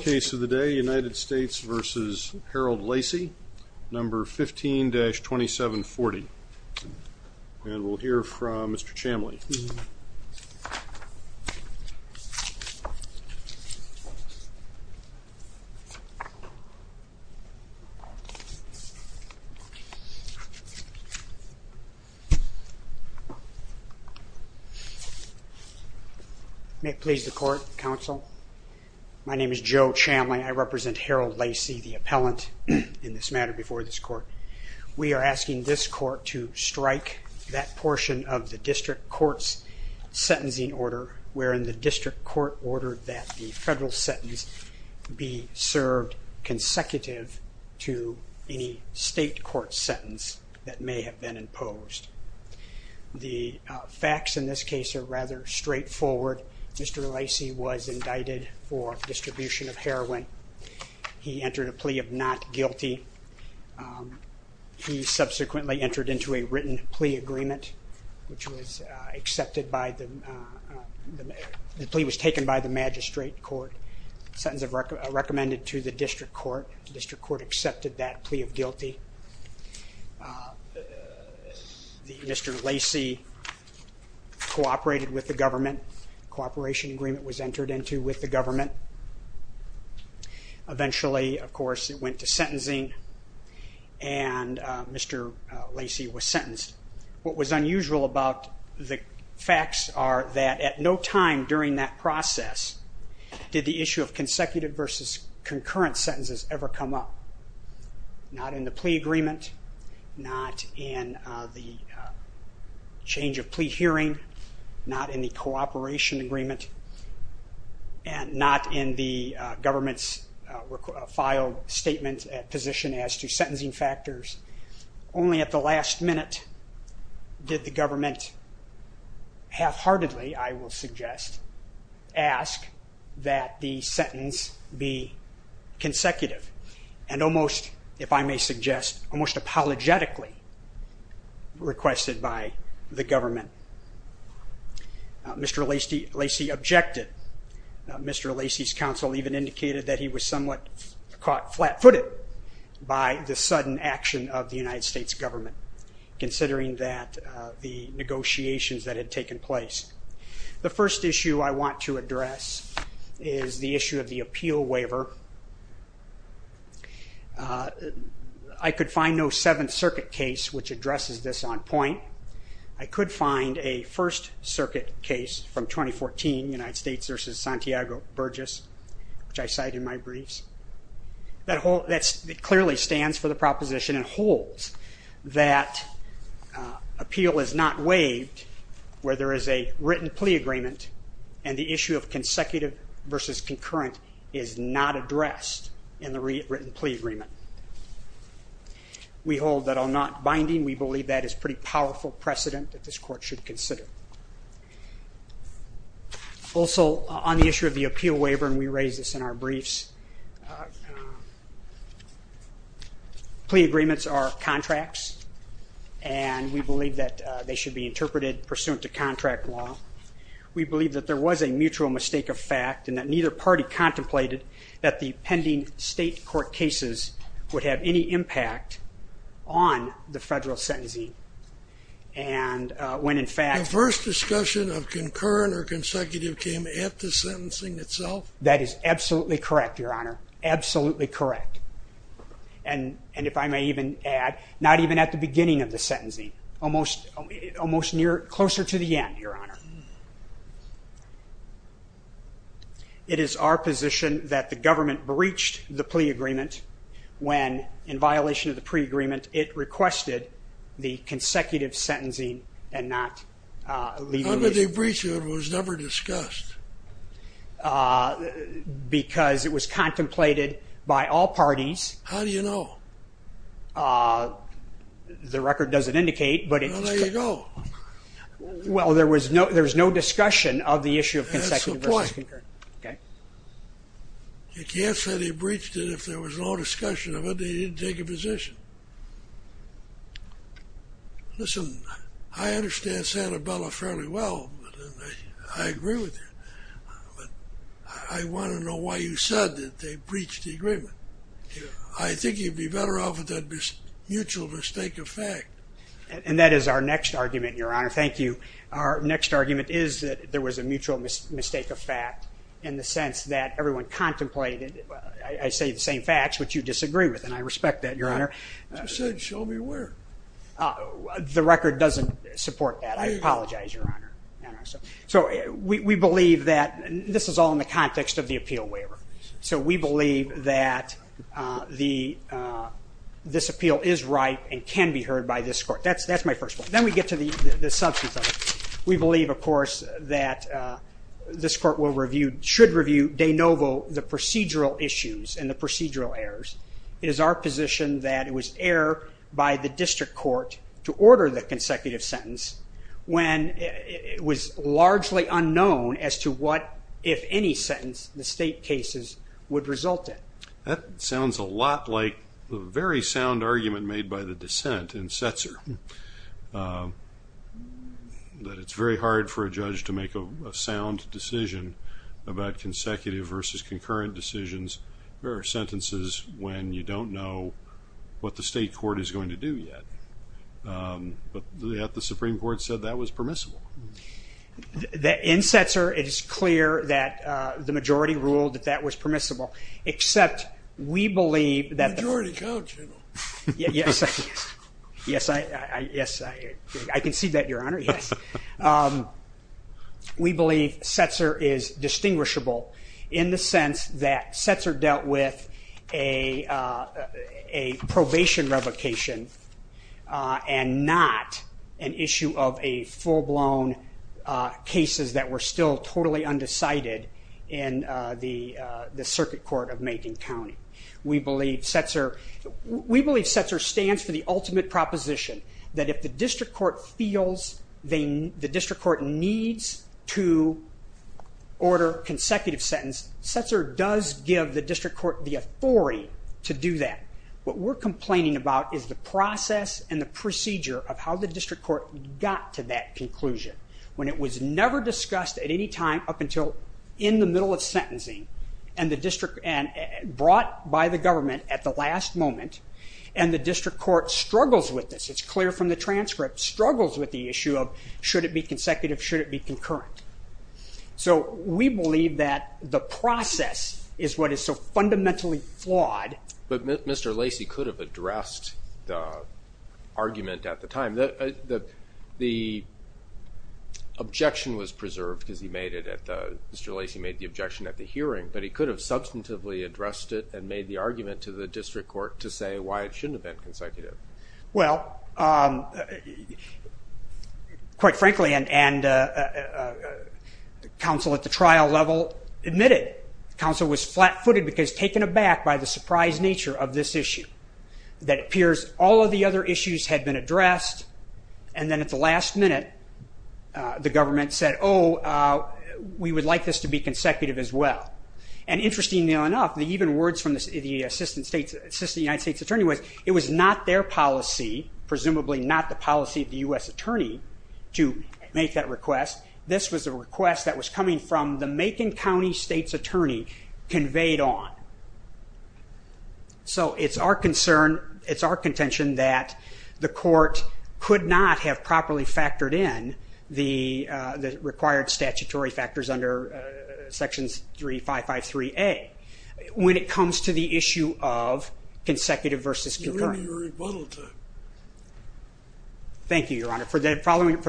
Case of the day United States v. Harold Lacy, number 15-2740. And we'll hear from Mr. Chamley. May it please the court, counsel. My name is Joe Chamley. I represent Harold Lacy, the appellant in this matter before this court. We are asking this court to strike that portion of the district court's sentencing order, wherein the district court ordered that the federal sentence be served consecutive to any state court sentence that may have been imposed. The facts in this case are rather straightforward. Mr. Lacy was indicted for distribution of heroin. He entered a written plea agreement, which was accepted by the, the plea was taken by the magistrate court, sentence recommended to the district court. The district court accepted that plea of guilty. Mr. Lacy cooperated with the government. A cooperation agreement was entered into with the government. Eventually, of course, it went to sentencing, and Mr. Lacy was sentenced. What was unusual about the facts are that at no time during that process did the issue of consecutive versus concurrent sentences ever come up. Not in the plea agreement, not in the change of plea hearing, not in the cooperation agreement, and not in the government's filed statement at position as to sentencing factors. Only at the last minute did the government half-heartedly, I will suggest, ask that the sentence be consecutive, and almost, if I may suggest, almost apologetically requested by the government. Mr. Lacy objected. Mr. Lacy's counsel even indicated that he was somewhat caught flat-footed by the sudden action of the United States government, considering that the negotiations that had taken place. The first issue I want to address is the issue of the appeal waiver. I could find a First Circuit case from 2014, United States v. Santiago Burgess, which I cite in my briefs, that clearly stands for the proposition and holds that appeal is not waived where there is a written plea agreement, and the issue of consecutive versus concurrent is not addressed in the written plea agreement. We hold that on not binding, we believe that is pretty powerful precedent that this Court should consider. Also, on the issue of the appeal waiver, and we raise this in our briefs, plea agreements are contracts, and we believe that they should be interpreted pursuant to contract law. We believe that there was a mutual mistake of fact, and that neither party contemplated that the plea agreements would have any impact on the federal sentencing. And when in fact... The first discussion of concurrent or consecutive came at the sentencing itself? That is absolutely correct, Your Honor, absolutely correct. And if I may even add, not even at the beginning of the sentencing, almost near, closer to the end, Your Honor, it was our position that the government breached the plea agreement when, in violation of the pre-agreement, it requested the consecutive sentencing and not leaving... How did they breach it? It was never discussed. Because it was contemplated by all parties. How do you know? The record doesn't indicate, but it... Well, there you go. Well, there was no discussion of the issue of consecutive versus concurrent. That's the point. Okay. You can't say they breached it if there was no discussion of it. They didn't take a position. Listen, I understand Santabella fairly well, and I agree with you, but I want to know why you said that they breached the agreement. I think you'd be better off with that mutual mistake of fact. And that is our next argument, Your Honor. Thank you. Our next argument is that there was a mutual mistake of fact in the sense that everyone contemplated... I say the same facts, which you disagree with, and I respect that, Your Honor. I said show me where. The record doesn't support that. I apologize, Your Honor. So we believe that... This is all in the context of the appeal waiver. So we believe that this appeal is right and can be heard by this court. That's my first point. Then we get to the substance of it. We believe, of course, that this court should review de novo the procedural issues and the procedural errors. It is our position that it was error by the district court to order the consecutive sentence when it was largely unknown as to what, if any sentence, the state cases would result in. That sounds a lot like the very sound argument made by the dissent in Setzer, that it's very hard for a judge to make a sound decision about consecutive versus concurrent decisions or sentences when you don't know what the state court is going to do yet. But the Supreme Court said that was permissible. In Setzer, it is clear that the majority ruled that that was permissible, except we believe that... Majority counts, you know. Yes, I can see that, Your Honor. We believe Setzer is distinguishable in the sense that Setzer dealt with a probation revocation and not an issue of a full-blown cases that were still totally undecided in the circuit court of Macon County. We believe Setzer stands for the ultimate proposition that if the district court feels the district court needs to order consecutive sentence, Setzer does give the district court the authority to do that. What we're complaining about is the process and the procedure of how the district court got to that conclusion. When it was never discussed at any time up until in the middle of sentencing and brought by the government at the last moment, and the district court struggles with this. It's clear from the transcript, struggles with the issue of should it be consecutive, should it be concurrent. So we believe that the process is what is so fundamentally flawed. But Mr. Lacey could have addressed the argument at the time. The objection was preserved because he made it at the... Mr. Lacey made the objection at the hearing, but he could have substantively addressed it and made the argument to the district court to say why it shouldn't have been consecutive. Well, quite frankly, and counsel at the trial level admitted, counsel was flat-footed because taken aback by the surprise nature of this issue. That appears all of the other issues had been addressed, and then at the last minute the government said, oh, we would like this to be consecutive as well. And interestingly enough, even words from the Assistant United States Attorney was it was not their policy, presumably not the policy of the U.S. Attorney, to make that request. This was a request that was coming from the Macon County State's Attorney conveyed on. So it's our concern, it's our contention that the court could not have properly factored in the required statutory factors under sections 3553A when it comes to the issue of consecutive versus concurrent. Thank you, Your Honor. For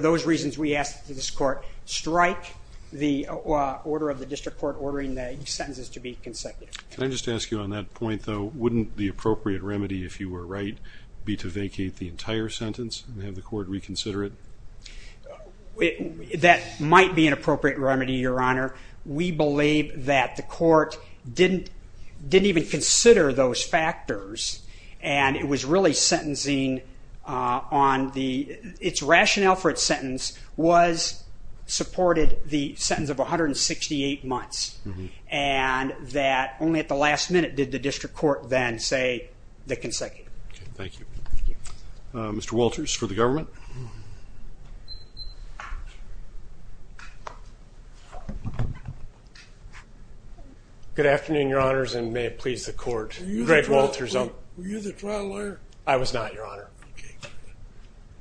those reasons, we ask that this court strike the order of the district court ordering the sentences to be consecutive. Can I just ask you on that point, though, wouldn't the appropriate remedy, if you were right, be to vacate the entire sentence and have the court reconsider it? That might be an appropriate remedy, Your Honor. We believe that the court didn't even consider those factors, and it was really sentencing on the, its rationale for its sentence was supported the sentence of 168 months, and that only at the last minute did the district court then say the consecutive. Thank you. Mr. Walters for the government. Good afternoon, Your Honors, and may it please the court. Were you the trial lawyer? I was not, Your Honor.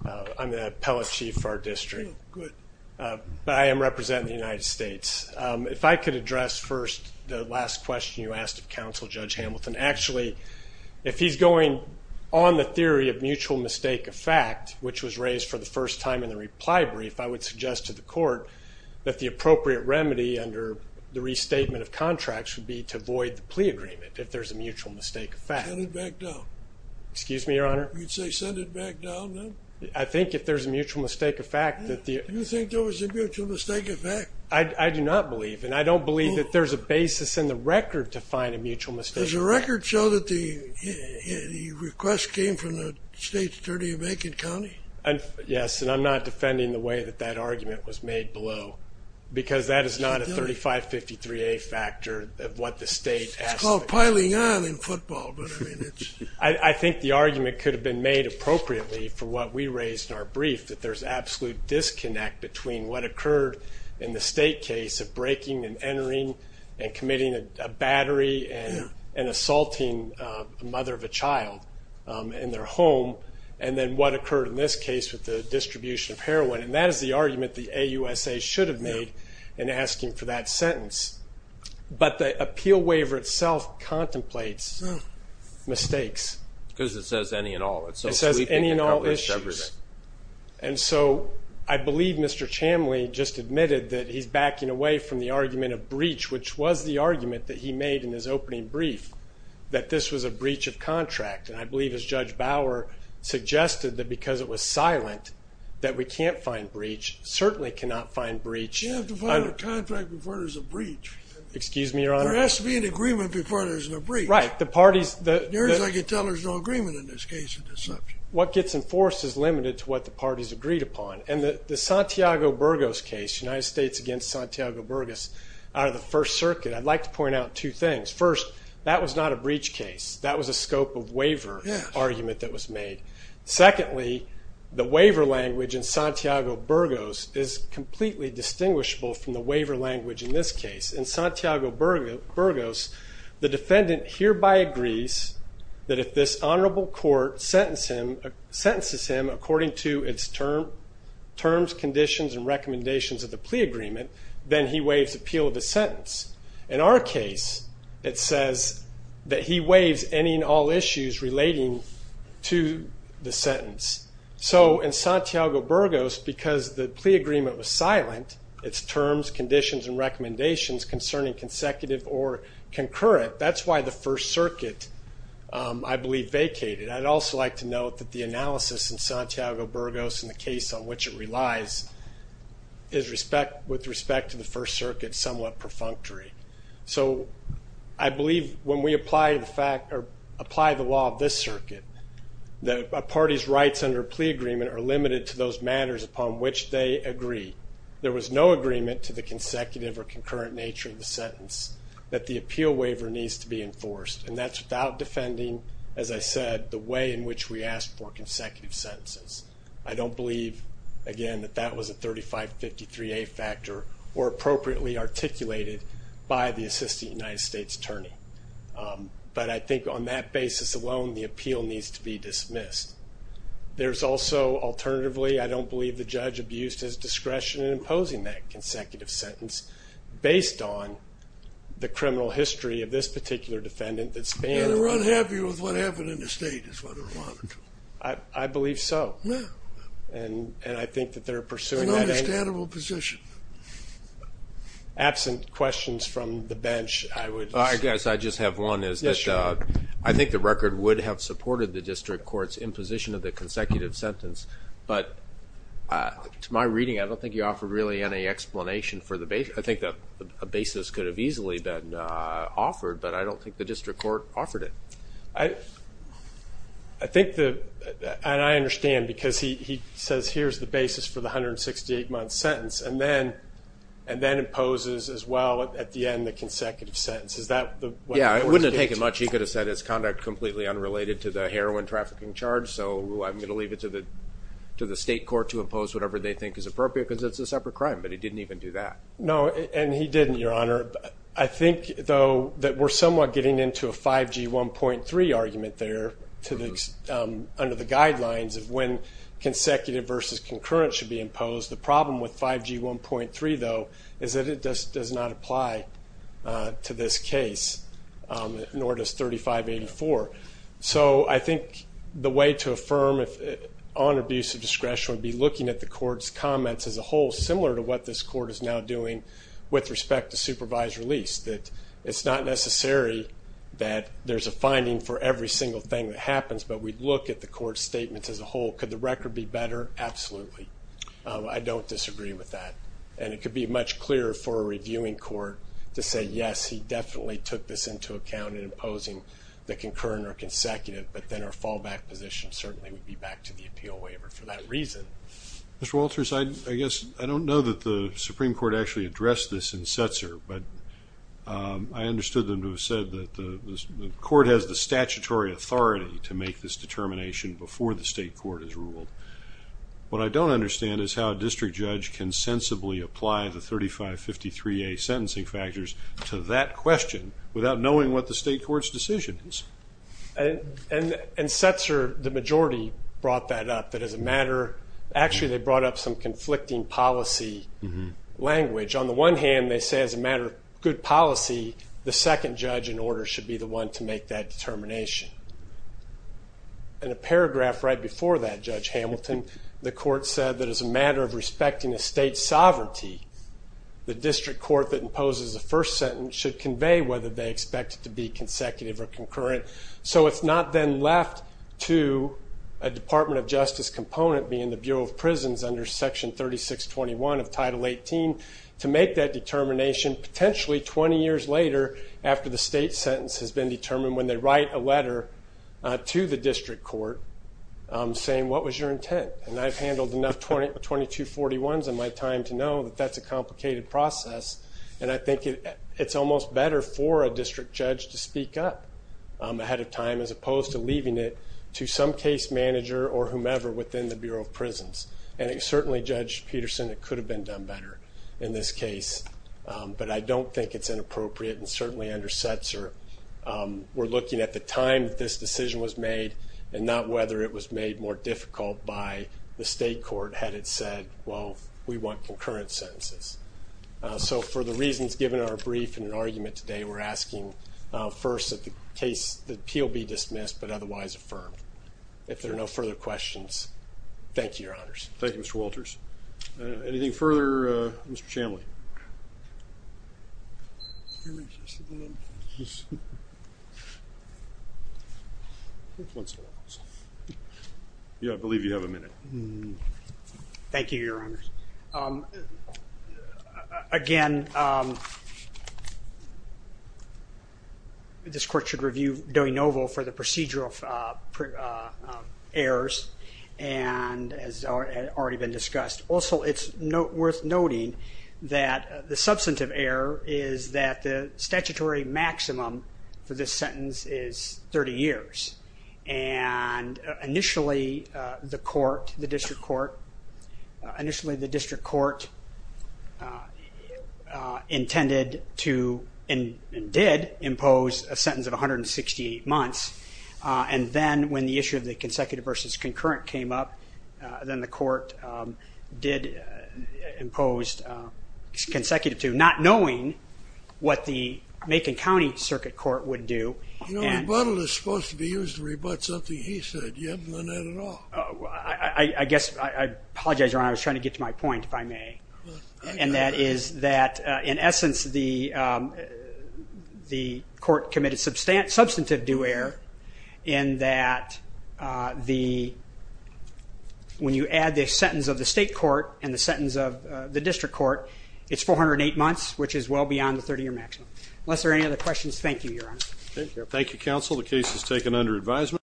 Okay. I'm the appellate chief for our district. Good. But I am representing the United States. If I could address first the last question you asked of counsel, Judge Hamilton. Actually, if he's going on the theory of mutual mistake of fact, which was raised for the first time in the reply brief, I would suggest to the court that the appropriate remedy under the restatement of contracts would be to void the plea agreement if there's a mutual mistake of fact. Send it back down. Excuse me, Your Honor? You'd say send it back down, then? I think if there's a mutual mistake of fact that the... Do you think there was a mutual mistake of fact? I do not believe, and I don't believe that there's a basis in the record to find a mutual mistake of fact. Does the record show that the request came from the state's attorney of Macon County? Yes, and I'm not defending the way that that argument was made below because that is not a 3553A factor of what the state... It's called piling on in football, but, I mean, it's... I think the argument could have been made appropriately for what we raised in our brief, that there's absolute disconnect between what occurred in the state case of breaking and entering and committing a battery and assaulting a mother of a child in their home, and then what occurred in this case with the distribution of heroin, and that is the argument the AUSA should have made in asking for that sentence. But the appeal waiver itself contemplates mistakes. Because it says any and all. It says any and all issues. And so I believe Mr. Chamley just admitted that he's backing away from the argument of breach, which was the argument that he made in his opening brief, that this was a breach of contract. And I believe, as Judge Bauer suggested, that because it was silent, that we can't find breach, certainly cannot find breach. You have to find a contract before there's a breach. Excuse me, Your Honor? There has to be an agreement before there's a breach. Right. The parties... There is. I can tell there's no agreement in this case of deception. What gets enforced is limited to what the parties agreed upon. And the Santiago Burgos case, United States against Santiago Burgos, out of the First Circuit, I'd like to point out two things. First, that was not a breach case. That was a scope of waiver argument that was made. Secondly, the waiver language in Santiago Burgos is completely distinguishable from the waiver language in this case. In Santiago Burgos, the defendant hereby agrees that if this honorable court sentences him according to its terms, conditions, and recommendations of the plea agreement, then he waives appeal of the sentence. In our case, it says that he waives any and all issues relating to the sentence. So in Santiago Burgos, because the plea agreement was silent, its terms, conditions, and recommendations concerning consecutive or concurrent, that's why the First Circuit, I believe, vacated. I'd also like to note that the analysis in Santiago Burgos and the case on which it relies is, with respect to the First Circuit, somewhat perfunctory. So I believe when we apply the law of this circuit that a party's rights under a plea agreement are limited to those matters upon which they agree. There was no agreement to the consecutive or concurrent nature of the sentence that the appeal waiver needs to be enforced. And that's without defending, as I said, the way in which we asked for consecutive sentences. I don't believe, again, that that was a 3553A factor or appropriately articulated by the assistant United States attorney. But I think on that basis alone, the appeal needs to be dismissed. There's also, alternatively, I don't believe the judge abused his discretion in imposing that consecutive sentence based on the criminal history of this particular defendant. And they're unhappy with what happened in the state is what they're allotted to. I believe so. Yeah. And I think that they're pursuing that. It's an understandable position. Absent questions from the bench, I would say. I guess I just have one is that I think the record would have supported the district court's imposition of the consecutive sentence. But to my reading, I don't think you offered really any explanation for the basis. I think a basis could have easily been offered, but I don't think the district court offered it. I think the – and I understand because he says here's the basis for the 168-month sentence and then imposes as well at the end the consecutive sentence. Is that what the court states? Yeah, it wouldn't have taken much. He could have said it's conduct completely unrelated to the heroin trafficking charge, so I'm going to leave it to the state court to impose whatever they think is appropriate because it's a separate crime. But he didn't even do that. No, and he didn't, Your Honor. I think, though, that we're somewhat getting into a 5G 1.3 argument there under the guidelines of when consecutive versus concurrent should be imposed. The problem with 5G 1.3, though, is that it does not apply to this case, nor does 3584. So I think the way to affirm on abuse of discretion would be looking at the court's comments as a whole, similar to what this court is now doing with respect to supervised release, that it's not necessary that there's a finding for every single thing that happens, but we'd look at the court's statements as a whole. Could the record be better? Absolutely. I don't disagree with that. And it could be much clearer for a reviewing court to say, yes, he definitely took this into account in imposing the concurrent or consecutive, but then our fallback position certainly would be back to the appeal waiver for that reason. Mr. Walters, I guess I don't know that the Supreme Court actually addressed this in Setzer, but I understood them to have said that the court has the statutory authority to make this determination before the state court has ruled. What I don't understand is how a district judge can sensibly apply the 3553A sentencing factors to that question without knowing what the state court's decision is. And Setzer, the majority, brought that up, that as a matter of fact, they brought up some conflicting policy language. On the one hand, they say as a matter of good policy, the second judge in order should be the one to make that determination. In a paragraph right before that, Judge Hamilton, the court said that as a matter of respecting a state's sovereignty, the district court that imposes the first sentence should convey whether they expect it to be consecutive or concurrent. So it's not then left to a Department of Justice component, being the Bureau of Prisons under Section 3621 of Title 18, to make that determination potentially 20 years later after the state sentence has been determined when they write a letter to the district court saying, what was your intent? And I've handled enough 2241s in my time to know that that's a complicated process. And I think it's almost better for a district judge to speak up ahead of time, as opposed to leaving it to some case manager or whomever within the Bureau of Prisons. And certainly, Judge Peterson, it could have been done better in this case. But I don't think it's inappropriate. And certainly, under Setzer, we're looking at the time that this decision was made and not whether it was made more difficult by the state court had it said, well, we want concurrent sentences. So for the reasons given in our brief in an argument today, we're asking first that the appeal be dismissed but otherwise affirmed. If there are no further questions, thank you, Your Honors. Thank you, Mr. Walters. Anything further? Mr. Shanley. Yeah, I believe you have a minute. Thank you, Your Honors. Again, this court should review Dewey-Novo for the procedural errors. And as has already been discussed. Also, it's worth noting that the substantive error is that the statutory maximum for this sentence is 30 years. And initially, the court, the district court, initially the district court intended to and did impose a sentence of 168 months. And then when the issue of the consecutive versus concurrent came up, then the court did impose consecutive to not knowing what the Macon County Circuit Court would do. You know, rebuttal is supposed to be used to rebut something he said. You haven't done that at all. I guess I apologize, Your Honor. I was trying to get to my point, if I may. And that is that, in essence, the court committed substantive due error in that the when you add the sentence of the state court and the sentence of the district court, it's 408 months, which is well beyond the 30-year maximum. Unless there are any other questions, thank you, Your Honor. Thank you, counsel. The case is taken under advisement.